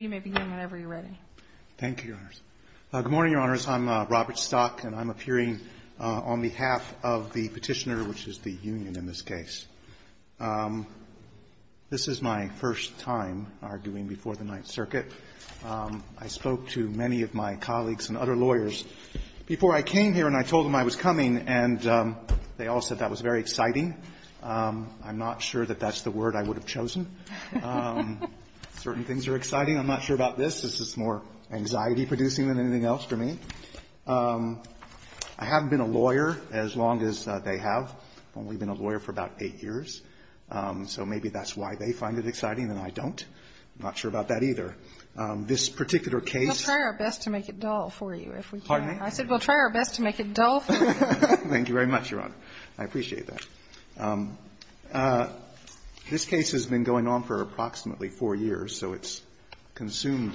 You may begin whenever you're ready. Thank you, Your Honors. Good morning, Your Honors. I'm Robert Stock, and I'm appearing on behalf of the Petitioner, which is the union in this case. This is my first time arguing before the Ninth Circuit. I spoke to many of my colleagues and other lawyers before I came here, and I told them I was coming, and they all said that was very exciting. I'm not sure that that's the word I would have chosen. Certain things are exciting. I'm not sure about this. This is more anxiety-producing than anything else for me. I haven't been a lawyer as long as they have. I've only been a lawyer for about eight years. So maybe that's why they find it exciting and I don't. I'm not sure about that either. This particular case — We'll try our best to make it dull for you, if we can. Pardon me? I said we'll try our best to make it dull for you. Thank you very much, Your Honor. I appreciate that. This case has been going on for approximately four years, so it's consumed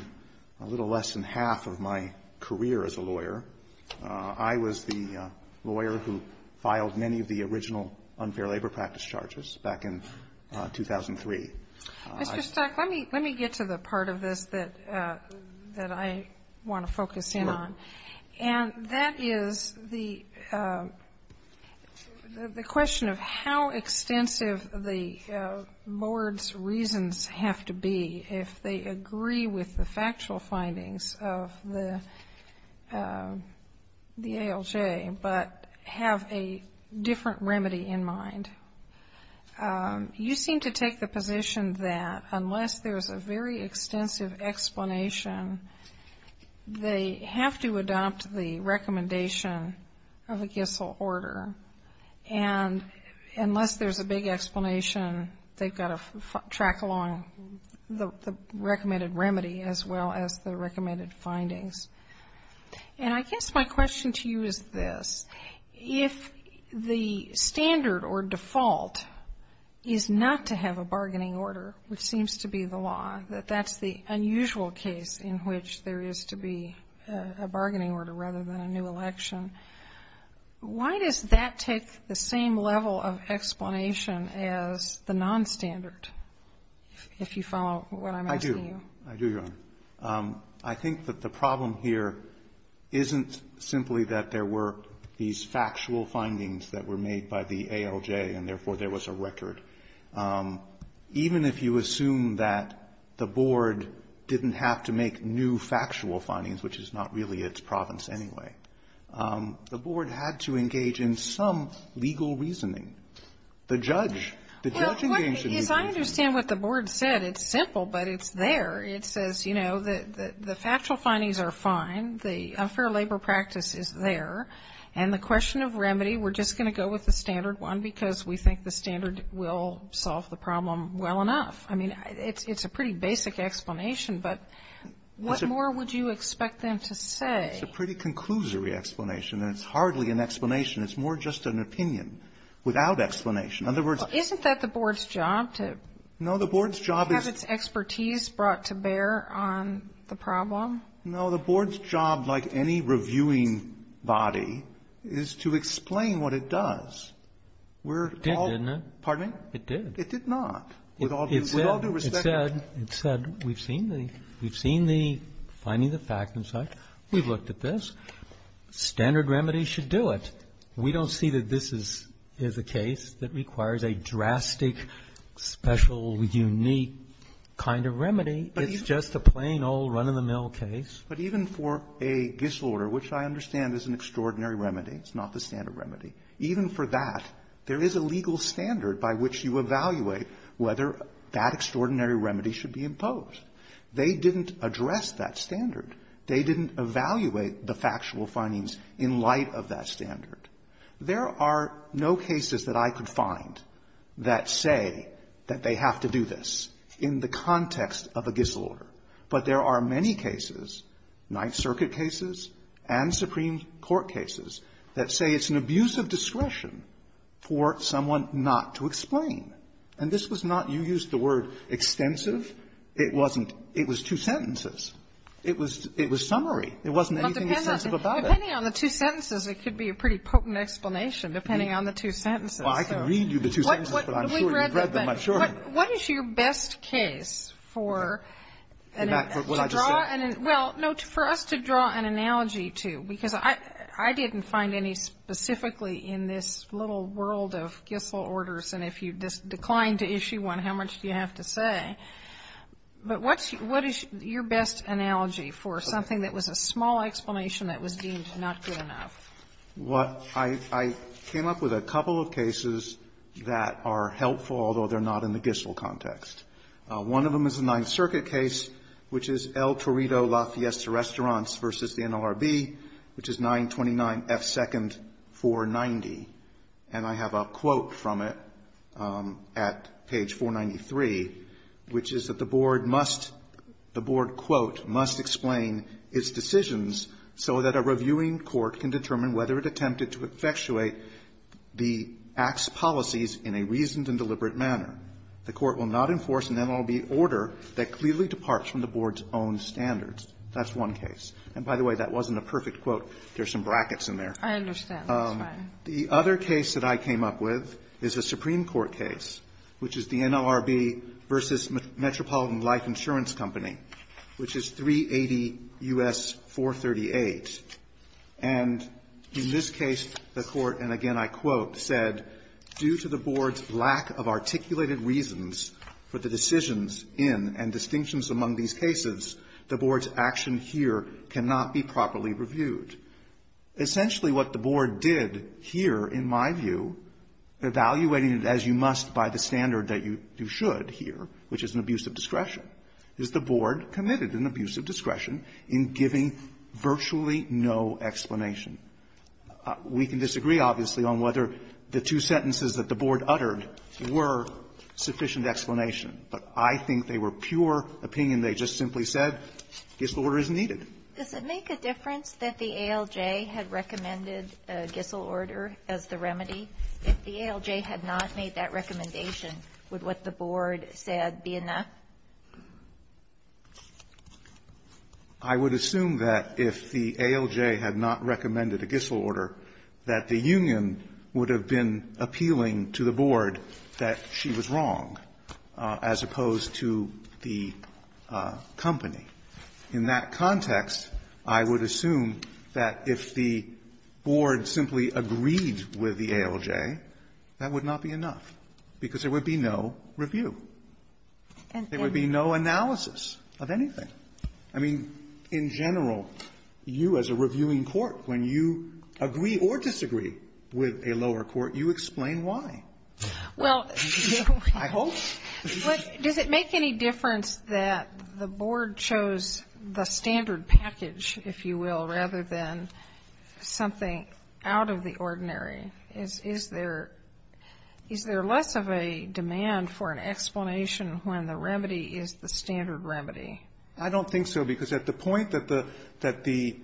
a little less than half of my career as a lawyer. I was the lawyer who filed many of the original unfair labor practice charges back in 2003. Mr. Stark, let me get to the part of this that I want to focus in on. And that is the question of how extensive the board's reasons have to be if they agree with the factual findings of the ALJ but have a different remedy in mind. You seem to take the position that unless there's a very extensive explanation, they have to adopt the recommendation of a Gissel order. And unless there's a big explanation, they've got to track along the recommended remedy as well as the recommended findings. And I guess my question to you is this. If the standard or default is not to have a bargaining order, which seems to be the law, that that's the unusual case in which there is to be a bargaining order rather than a new election, why does that take the same level of explanation as the nonstandard, if you follow what I'm asking you? I do. I do, Your Honor. I think that the problem here isn't simply that there were these factual findings that were made by the ALJ and therefore there was a record. Even if you assume that the board didn't have to make new factual findings, which is not really its province anyway, the board had to engage in some legal reasoning. The judge, the judge engaged in legal reasoning. Well, what the issue is, I understand what the board said. It's simple, but it's there. It says, you know, the factual findings are fine. The unfair labor practice is there. And the question of remedy, we're just going to go with the standard one because we think the standard will solve the problem well enough. I mean, it's a pretty basic explanation, but what more would you expect them to say? It's a pretty conclusory explanation, and it's hardly an explanation. It's more just an opinion without explanation. In other words, isn't that the board's job to have its expertise brought to bear on the problem? No. The board's job, like any reviewing body, is to explain what it does. We're all ---- It did, didn't it? Pardon me? It did. It did not. With all due respect to the ---- It said, it said, we've seen the finding of the fact and such. We've looked at this. Standard remedy should do it. We don't see that this is a case that requires a drastic, special, unique kind of remedy. It's just a plain old run-of-the-mill case. But even for a disorder, which I understand is an extraordinary remedy, it's not the standard remedy. Even for that, there is a legal standard by which you evaluate whether that extraordinary remedy should be imposed. They didn't address that standard. They didn't evaluate the factual findings in light of that standard. There are no cases that I could find that say that they have to do this in the context of a Gissel order. But there are many cases, Ninth Circuit cases and Supreme Court cases, that say it's an abuse of discretion for someone not to explain. And this was not, you used the word, extensive. It wasn't. It was two sentences. It was summary. It wasn't anything extensive about it. Depending on the two sentences, it could be a pretty potent explanation, depending on the two sentences. Well, I can read you the two sentences, but I'm sure you've read them, I'm sure. What is your best case for a draw and an ---- in this little world of Gissel orders, and if you decline to issue one, how much do you have to say? But what is your best analogy for something that was a small explanation that was deemed not good enough? What I came up with a couple of cases that are helpful, although they're not in the Gissel context. One of them is a Ninth Circuit case, which is El Torito La Fiesta Restaurants v. the NLRB, which is 929F2nd 490, and I have a quote from it at page 493, which is that the board must, the board, quote, must explain its decisions so that a reviewing court can determine whether it attempted to effectuate the Act's policies in a reasoned and deliberate manner. The court will not enforce an NLRB order that clearly departs from the board's own standards. That's one case. And by the way, that wasn't a perfect quote. There are some brackets in there. Kagan. I understand. That's fine. The other case that I came up with is a Supreme Court case, which is the NLRB v. Metropolitan Life Insurance Company, which is 380 U.S. 438. And in this case, the court, and again I quote, said, due to the board's lack of articulated reasons for the decisions in and distinctions among these cases, the board's action here cannot be properly reviewed. Essentially what the board did here, in my view, evaluating it as you must by the standard that you should here, which is an abuse of discretion, is the board committed an abuse of discretion in giving virtually no explanation. We can disagree, obviously, on whether the two sentences that the board uttered were sufficient explanation, but I think they were pure opinion. They just simply said, Gissel order is needed. Does it make a difference that the ALJ had recommended a Gissel order as the remedy? If the ALJ had not made that recommendation, would what the board said be enough? I would assume that if the ALJ had not recommended a Gissel order, that the union would have been appealing to the board that she was wrong, as opposed to the company. In that context, I would assume that if the board simply agreed with the ALJ, that would not be enough, because there would be no review. There would be no analysis of anything. I mean, in general, you as a reviewing court, when you agree or disagree with a lower court, you explain why. Well, you know, I hope. But does it make any difference that the board chose the standard package, if you will, rather than something out of the ordinary? Is there less of a demand for an explanation when the remedy is the standard remedy? I don't think so, because at the point that the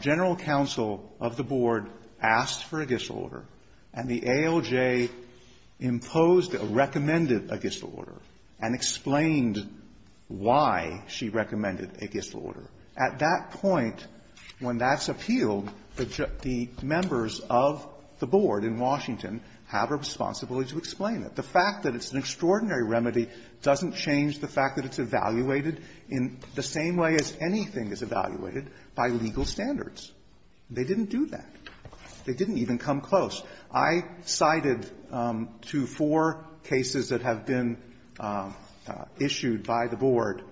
general counsel of the board asked for a Gissel order, and the ALJ imposed or recommended a Gissel order, and explained why she recommended a Gissel order, at that point, when that's appealed, the members of the board in Washington have a responsibility to explain it. The fact that it's an extraordinary remedy doesn't change the fact that it's evaluated in the same way as anything is evaluated, by legal standards. They didn't do that. They didn't even come close. I cited two, four cases that have been issued by the board in the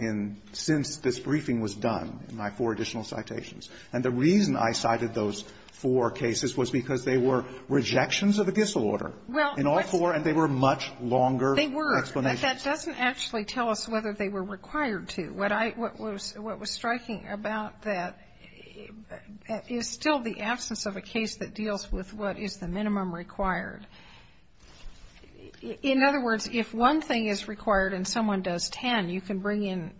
region since this briefing was done, in my four additional citations. And the reason I cited those four cases was because they were rejections of the Gissel order, in all four, and they were much longer explanations. They were, but that doesn't actually tell us whether they were required to. What I was striking about that is still the absence of a case that deals with what is the minimum required. In other words, if one thing is required and someone does ten, you can bring in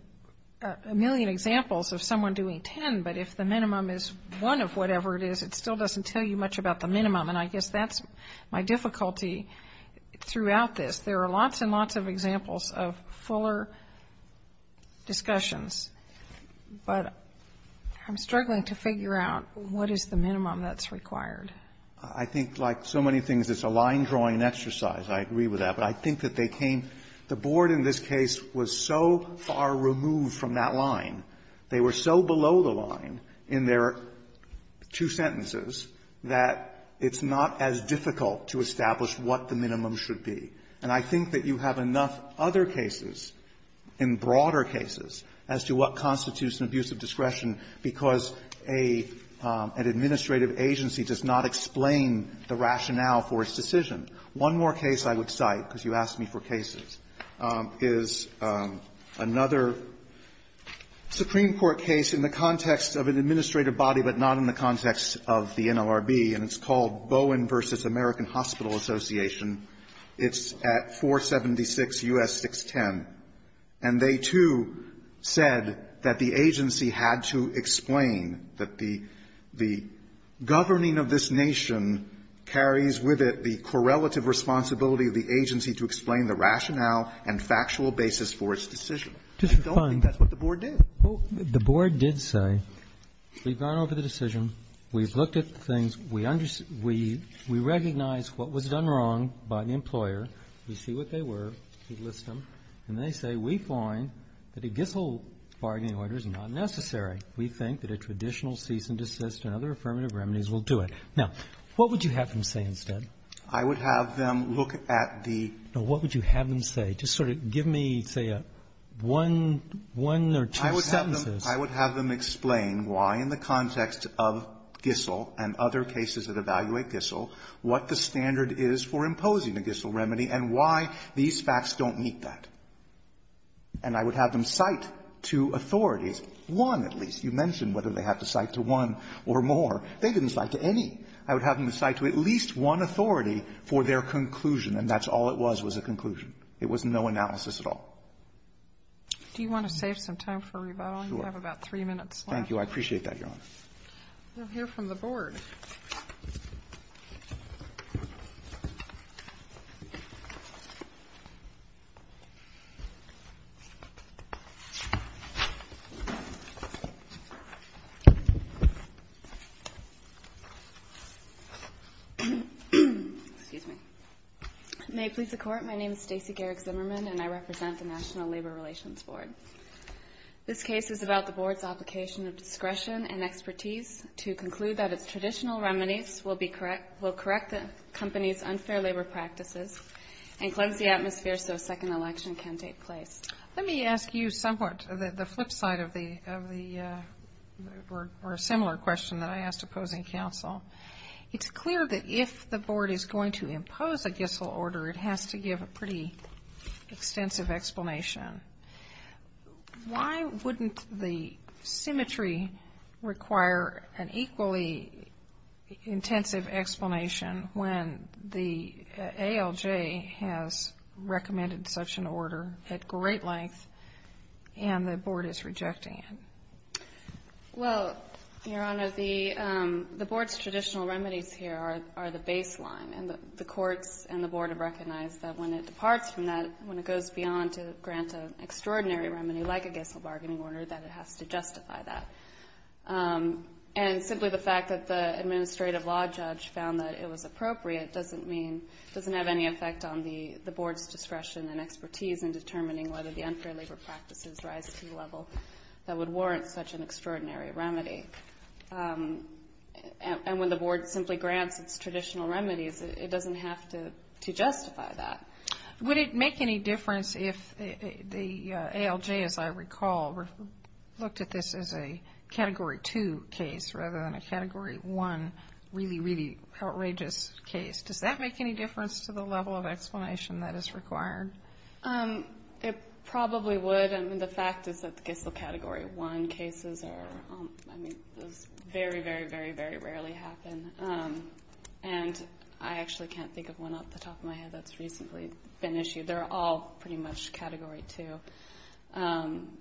a million examples of someone doing ten, but if the minimum is one of whatever it is, it still doesn't tell you much about the minimum. And I guess that's my difficulty throughout this. There are lots and lots of examples of fuller discussions, but I'm struggling to figure out what is the minimum that's required. I think, like so many things, it's a line-drawing exercise. I agree with that. But I think that they came the board in this case was so far removed from that line. They were so below the line in their two sentences that it's not as difficult to establish what the minimum should be. And I think that you have enough other cases, in broader cases, as to what constitutes an abuse of discretion, because a — an administrative agency does not explain the rationale for its decision. One more case I would cite, because you asked me for cases, is another Supreme Court case in the context of an administrative body, but not in the context of the NLRB. And it's called Bowen v. American Hospital Association. It's at 476 U.S. 610. And they, too, said that the agency had to explain that the — the governing of this nation carries with it the correlative responsibility of the agency to explain the rationale and factual basis for its decision. I don't think that's what the board did. Just to find — well, the board did say, we've gone over the decision. We've looked at the things. We understand — we — we recognize what was done wrong by the employer. We see what they were. We list them. And they say, we find that a Gissell bargaining order is not necessary. We think that a traditional cease and desist and other affirmative remedies will do it. Now, what would you have them say instead? I would have them look at the — Now, what would you have them say? Just sort of give me, say, one — one or two sentences. I would have them explain why, in the context of Gissell and other cases that evaluate Gissell, what the standard is for imposing a Gissell remedy and why these facts don't meet that. And I would have them cite to authorities one, at least. You mentioned whether they have to cite to one or more. They didn't cite to any. I would have them cite to at least one authority for their conclusion, and that's all it was, was a conclusion. It was no analysis at all. Do you want to save some time for rebuttal? Sure. You have about three minutes left. Thank you. I appreciate that, Your Honor. We'll hear from the board. May it please the Court, my name is Stacey Garrick Zimmerman, and I represent the National Labor Relations Board. This case is about the board's application of discretion and expertise to conclude that traditional remedies will correct the company's unfair labor practices and cleanse the atmosphere so a second election can take place. Let me ask you somewhat the flip side of the, or a similar question that I asked opposing counsel. It's clear that if the board is going to impose a Gissell order, it has to give a pretty extensive explanation. Why wouldn't the symmetry require an equally intensive explanation when the ALJ has recommended such an order at great length and the board is rejecting it? Well, Your Honor, the board's traditional remedies here are the baseline, and the courts and the board have recognized that when it departs from that, when it goes beyond to grant an extraordinary remedy like a Gissell bargaining order, that it has to justify that. And simply the fact that the administrative law judge found that it was appropriate doesn't mean, doesn't have any effect on the board's discretion and expertise in determining whether the unfair labor practices rise to the level that would warrant such an extraordinary remedy. And when the board simply grants its traditional remedies, it doesn't have to justify that. Would it make any difference if the ALJ, as I recall, looked at this as a Category 2 case rather than a Category 1 really, really outrageous case? Does that make any difference to the level of explanation that is required? It probably would. I mean, the fact is that the Gissell Category 1 cases are, I mean, those very, very, very, very rarely happen. And I actually can't think of one off the top of my head that's recently been issued. They're all pretty much Category 2.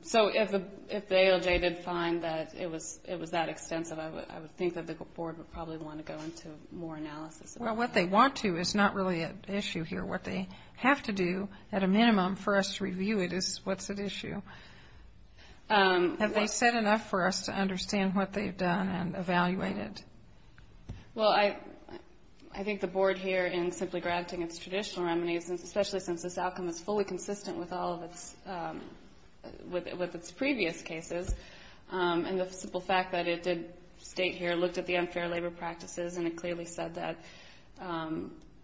So if the ALJ did find that it was that extensive, I would think that the board would probably want to go into more analysis. Well, what they want to is not really an issue here. What they have to do, at a minimum, for us to review it is what's at issue. Have they said enough for us to understand what they've done and evaluate it? Well, I think the board here, in simply granting its traditional remedies, especially since this outcome is fully consistent with all of its previous cases, and the simple fact that it did state here, looked at the unfair labor practices, and it clearly said that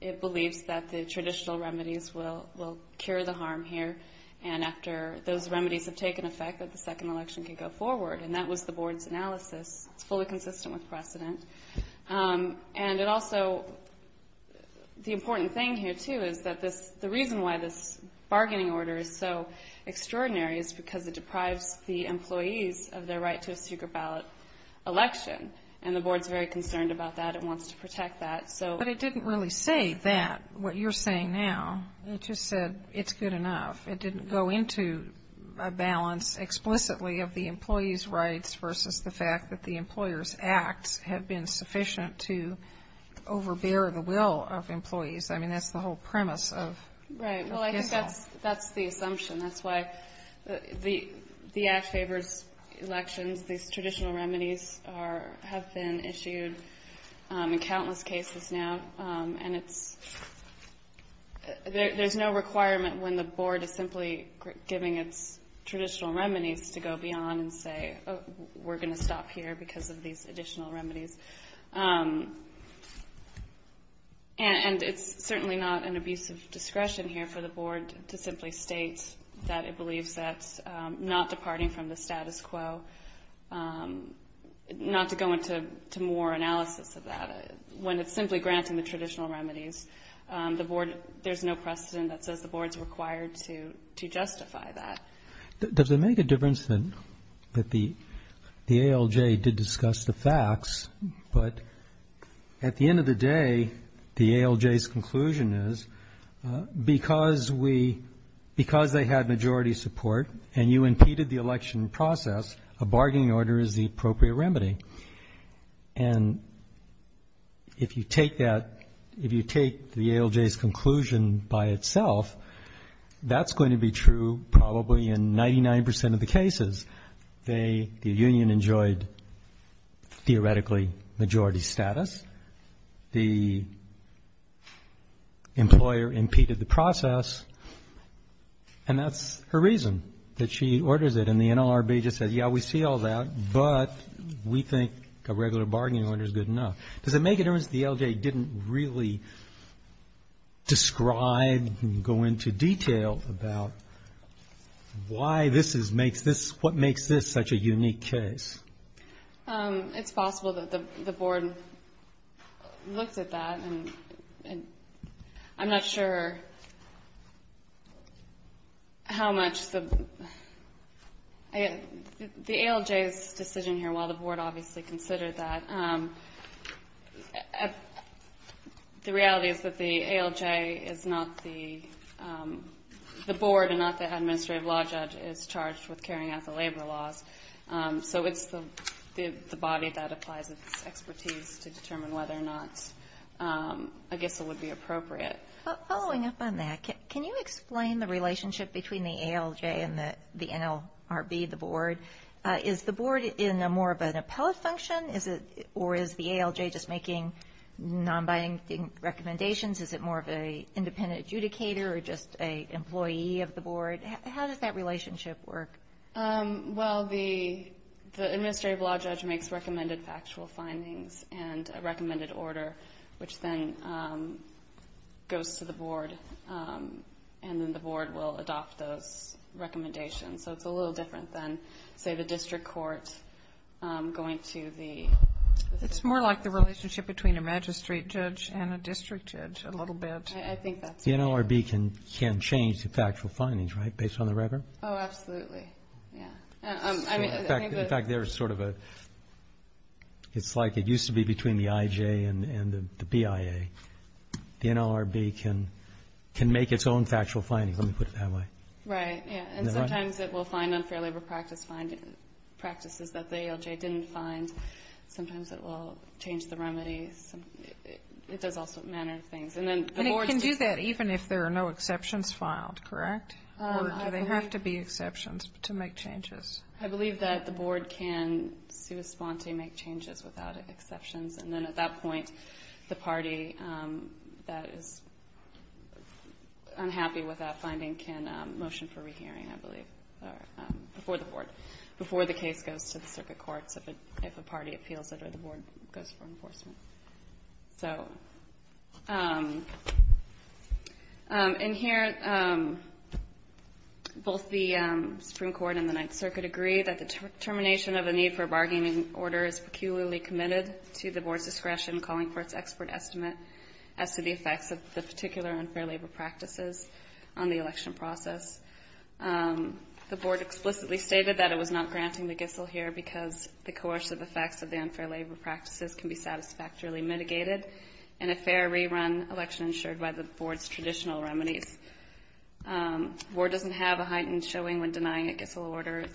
it believes that the traditional remedies will cure the harm here. And after those remedies have taken effect, that the second election can go forward. And that was the board's analysis. It's fully consistent with precedent. And it also, the important thing here, too, is that the reason why this bargaining order is so extraordinary is because it deprives the employees of their right to a secret ballot election. And the board's very concerned about that and wants to protect that. But it didn't really say that, what you're saying now. It just said it's good enough. It didn't go into a balance explicitly of the employees' rights versus the fact that the employers' acts have been sufficient to overbear the will of employees. I mean, that's the whole premise of this all. Right. Well, I think that's the assumption. That's why the Act favors elections. These traditional remedies have been issued in countless cases now. And it's, there's no requirement when the board is simply giving its traditional remedies to go beyond and say, we're going to stop here because of these additional remedies. And it's certainly not an abuse of discretion here for the board to simply state that it believes that's not departing from the status quo, not to go into more analysis of that. When it's simply granting the traditional remedies, the board, there's no precedent that says the board's required to justify that. Does it make a difference that the ALJ did discuss the facts, but at the end of the day, the ALJ's conclusion is, because we, because they had majority support and you impeded the election process, a bargaining order is the appropriate remedy. And if you take that, if you take the ALJ's conclusion by itself, that's going to be true probably in 99 percent of the cases. The union enjoyed, theoretically, majority status. The employer impeded the process. And that's her reason that she orders it. And the NLRB just said, yeah, we see all that, but we think a regular bargaining order is good enough. Does it make a difference that the ALJ didn't really describe and go into detail about why this is, makes this, what makes this such a unique case? It's possible that the board looked at that, and I'm not sure how much the, the ALJ's decision here, while the board obviously considered that, the reality is that the ALJ is not the board, and not the administrative law judge is charged with carrying out the labor laws. So it's the body that applies its expertise to determine whether or not, I guess it would be appropriate. Following up on that, can you explain the relationship between the ALJ and the NLRB, the board? Is the board in a more of an appellate function, or is the ALJ just making non-binding recommendations? Is it more of an independent adjudicator, or just an employee of the board? How does that relationship work? Well, the administrative law judge makes recommended factual findings and a recommended order, which then goes to the board, and then the board will adopt those recommendations. So it's a little different than, say, the district court going to the... It's more like the relationship between a magistrate judge and a district judge, a little bit. The NLRB can change the factual findings, right, based on the record? Oh, absolutely, yeah. In fact, there's sort of a, it's like it used to be between the IJ and the BIA. The NLRB can make its own factual findings, let me put it that way. Right, yeah, and sometimes it will find unfair labor practices that the ALJ didn't find. Sometimes it will change the remedies. It does all sorts of manner of things. And it can do that even if there are no exceptions filed, correct? Or do they have to be exceptions to make changes? I believe that the board can sui sponte, make changes without exceptions, and then at that point the party that is unhappy with that finding can motion for rehearing, I believe, before the board, before the case goes to the circuit courts if a party appeals it or the board goes for enforcement. In here, both the Supreme Court and the Ninth Circuit agree that the termination of a need for a bargaining order is peculiarly committed to the board's discretion calling for its expert estimate as to the effects of the particular unfair labor practices on the election process. The board explicitly stated that it was not granting the Gissel here because the coercive effects of the unfair labor practices can be satisfactorily mitigated in a fair rerun election ensured by the board's traditional remedies. The board doesn't have a heightened showing when denying a Gissel order.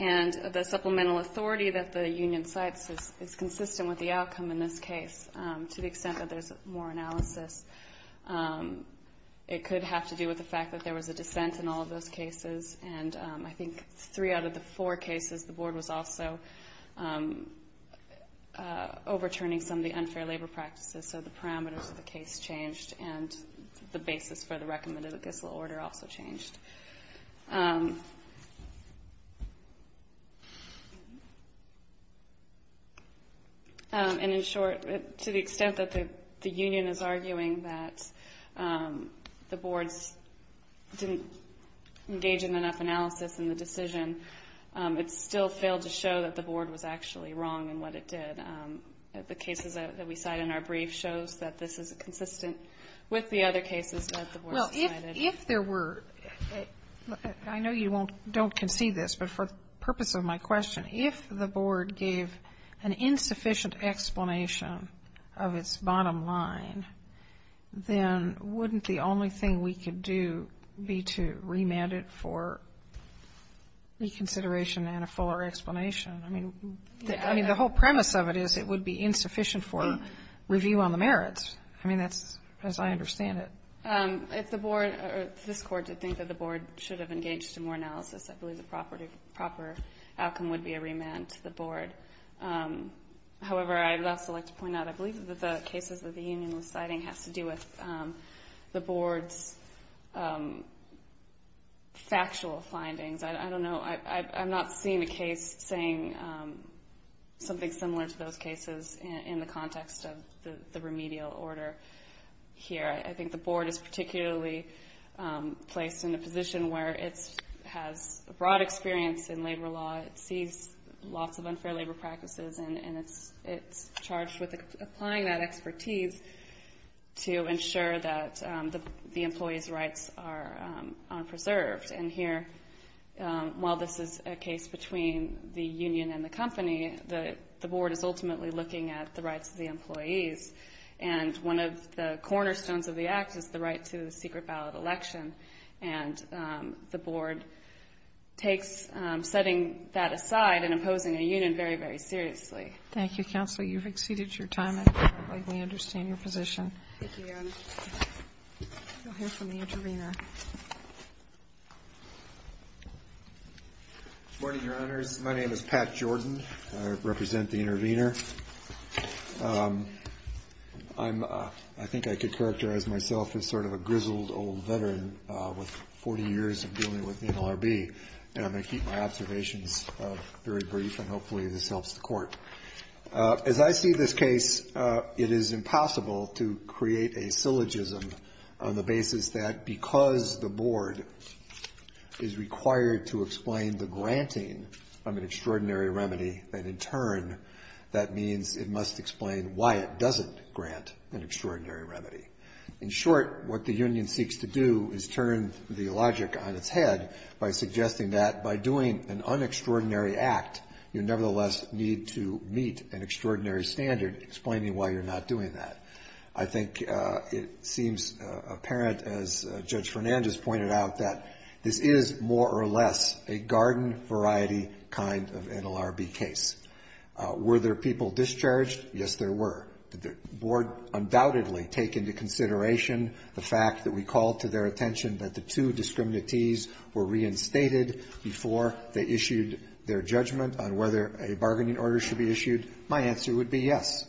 And the supplemental authority that the union cites is consistent with the outcome in this case to the extent that there's more analysis. It could have to do with the fact that there was a dissent in all of those cases, and I think three out of the four cases the board was also overturning some of the unfair labor practices, so the parameters of the case changed and the basis for the recommended Gissel order also changed. And in short, to the extent that the union is arguing that the boards didn't engage in enough analysis in the decision, it still failed to show that the board was actually wrong in what it did. And the cases that we cite in our brief shows that this is consistent with the other cases that the board cited. Well, if there were, I know you don't concede this, but for the purpose of my question, if the board gave an insufficient explanation of its bottom line, then wouldn't the only thing we could do be to remand it for reconsideration and a fuller explanation? I mean, the whole premise of it is it would be insufficient for review on the merits. I mean, that's as I understand it. If the board or this Court did think that the board should have engaged in more analysis, I believe the proper outcome would be a remand to the board. However, I would also like to point out, I believe that the cases that the union was citing has to do with the board's factual findings. I don't know, I'm not seeing a case saying something similar to those cases in the context of the remedial order here. I think the board is particularly placed in a position where it has a broad experience in labor law, it sees lots of unfair labor practices, and it's charged with applying that expertise to ensure that the employee's rights are preserved. And here, while this is a case between the union and the company, the board is ultimately looking at the rights of the employees. And one of the cornerstones of the act is the right to a secret ballot election. And the board takes setting that aside and imposing a union very, very seriously. Thank you, counsel. You've exceeded your time. I think we understand your position. Thank you, Your Honor. We'll hear from the intervener. Good morning, Your Honors. My name is Pat Jordan. I represent the intervener. I think I could characterize myself as sort of a grizzled old veteran with 40 years of dealing with NLRB. And I'm going to keep my observations very brief, and hopefully this helps the Court. As I see this case, it is impossible to create a syllogism on the basis that because the board is required to explain the granting of an extraordinary remedy, that in turn that means it must explain why it doesn't grant an extraordinary remedy. In short, what the union seeks to do is turn the logic on its head by suggesting that by doing an unextraordinary act, you nevertheless need to meet an extraordinary standard explaining why you're not doing that. I think it seems apparent, as Judge Fernandez pointed out, that this is more or less a garden-variety kind of NLRB case. Were there people discharged? Yes, there were. Did the board undoubtedly take into consideration the fact that we called to their floor, they issued their judgment on whether a bargaining order should be issued? My answer would be yes.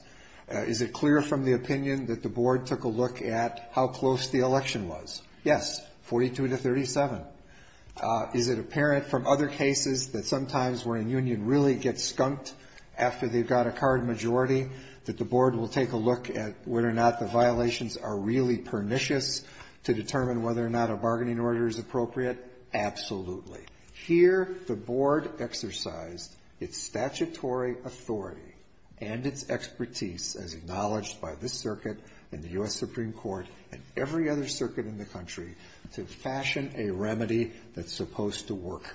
Is it clear from the opinion that the board took a look at how close the election was? Yes, 42 to 37. Is it apparent from other cases that sometimes when a union really gets skunked after they've got a card majority, that the board will take a look at whether or not the violations are really pernicious to determine whether or not a bargaining order is appropriate? Absolutely. Here, the board exercised its statutory authority and its expertise, as acknowledged by this circuit and the U.S. Supreme Court and every other circuit in the country, to fashion a remedy that's supposed to work.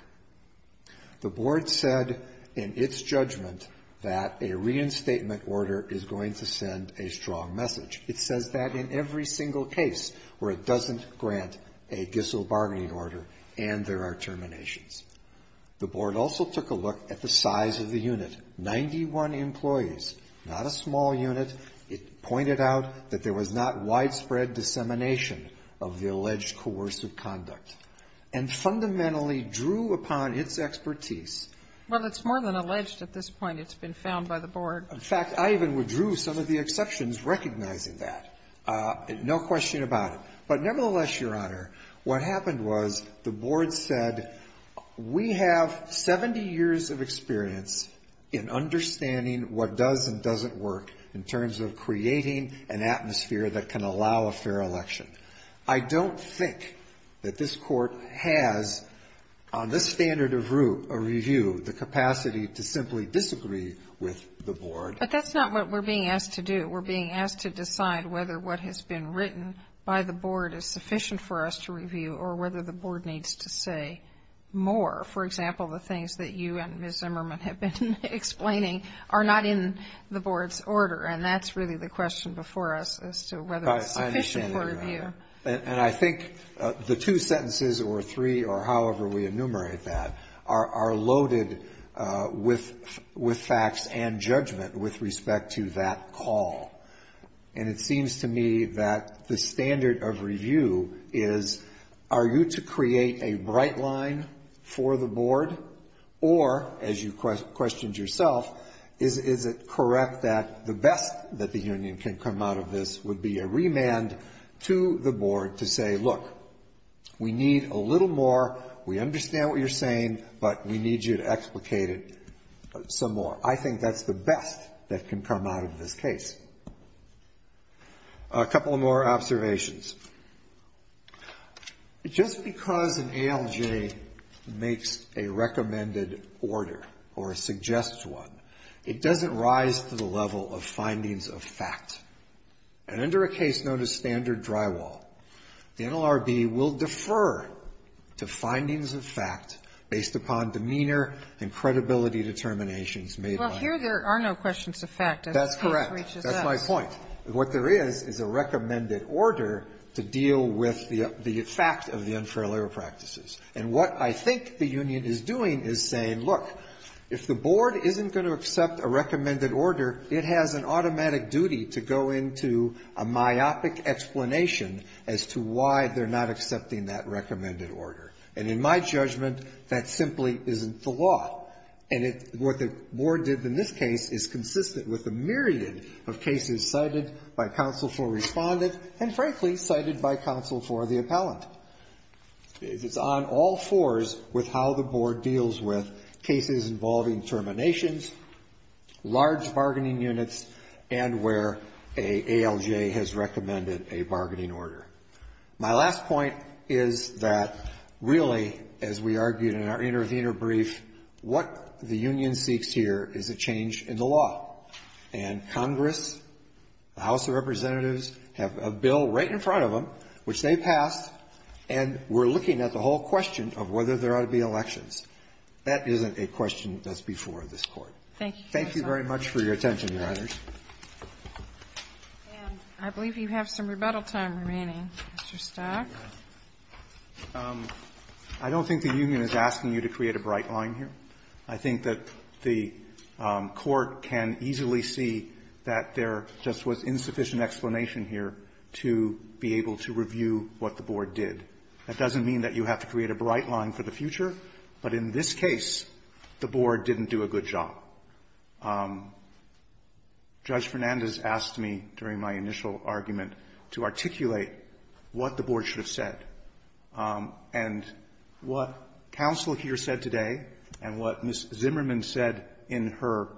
The board said in its judgment that a reinstatement order is going to send a strong order and there are terminations. The board also took a look at the size of the unit, 91 employees, not a small unit. It pointed out that there was not widespread dissemination of the alleged coercive conduct and fundamentally drew upon its expertise. Well, it's more than alleged at this point. It's been found by the board. In fact, I even withdrew some of the exceptions recognizing that. No question about it. But nevertheless, Your Honor, what happened was the board said we have 70 years of experience in understanding what does and doesn't work in terms of creating an atmosphere that can allow a fair election. I don't think that this Court has, on this standard of root, a review, the capacity to simply disagree with the board. But that's not what we're being asked to do. We're being asked to decide whether what has been written by the board is sufficient for us to review or whether the board needs to say more. For example, the things that you and Ms. Zimmerman have been explaining are not in the board's order, and that's really the question before us as to whether it's sufficient for review. And I think the two sentences or three or however we enumerate that are loaded with facts and judgment with respect to that call. And it seems to me that the standard of review is are you to create a bright line for the board or, as you questioned yourself, is it correct that the best that the union can come out of this would be a remand to the board to say, look, we need a remand to the board. A couple more observations. Just because an ALJ makes a recommended order or suggests one, it doesn't rise to the level of findings of fact. And under a case known as standard drywall, the NLRB will defer to findings of fact based upon demeanor and credibility determinations made by it. Sotomayor, here there are no questions of fact. That's correct. That's my point. What there is is a recommended order to deal with the effect of the unfair labor practices. And what I think the union is doing is saying, look, if the board isn't going to accept a recommended order, it has an automatic duty to go into a myopic explanation as to why they're not accepting that recommended order. And in my judgment, that simply isn't the law. And what the board did in this case is consistent with a myriad of cases cited by counsel for respondent and, frankly, cited by counsel for the appellant. It's on all fours with how the board deals with cases involving terminations, large bargaining units, and where an ALJ has recommended a bargaining order. My last point is that, really, as we argued in our intervener brief, what the union seeks here is a change in the law. And Congress, the House of Representatives, have a bill right in front of them, which they passed, and we're looking at the whole question of whether there ought to be elections. That isn't a question that's before this Court. Thank you very much for your attention, Your Honors. And I believe you have some rebuttal time remaining, Mr. Stock. I don't think the union is asking you to create a bright line here. I think that the Court can easily see that there just was insufficient explanation here to be able to review what the board did. That doesn't mean that you have to create a bright line for the future, but in this case, the board didn't do a good job. Judge Fernandez asked me during my initial argument to articulate what the board should have said. And what counsel here said today and what Ms. Zimmerman said in her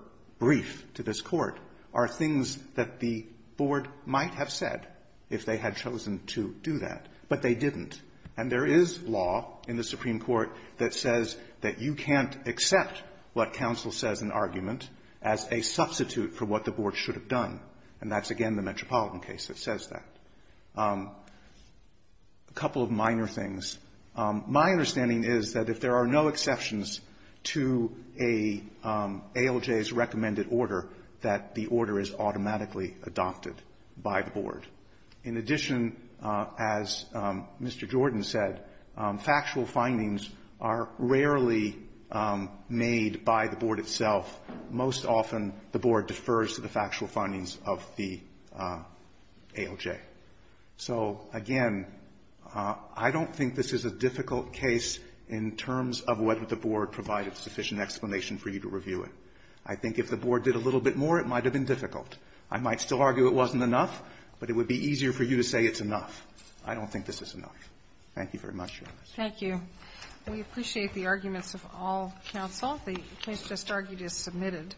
brief to this Court are things that the board might have said if they had chosen to do that, but they didn't. And there is law in the Supreme Court that says that you can't accept what counsel says in argument as a substitute for what the board should have done. And that's, again, the Metropolitan case that says that. A couple of minor things. My understanding is that if there are no exceptions to a ALJ's recommended order, that the order is automatically adopted by the board. In addition, as Mr. Jordan said, factual findings are rarely made by the board itself. Most often, the board defers to the factual findings of the ALJ. So, again, I don't think this is a difficult case in terms of whether the board provided sufficient explanation for you to review it. I think if the board did a little bit more, it might have been difficult. I might still argue it wasn't enough, but it would be easier for you to say it's enough. Thank you very much, Your Honor. Thank you. We appreciate the arguments of all counsel. The case just argued is submitted.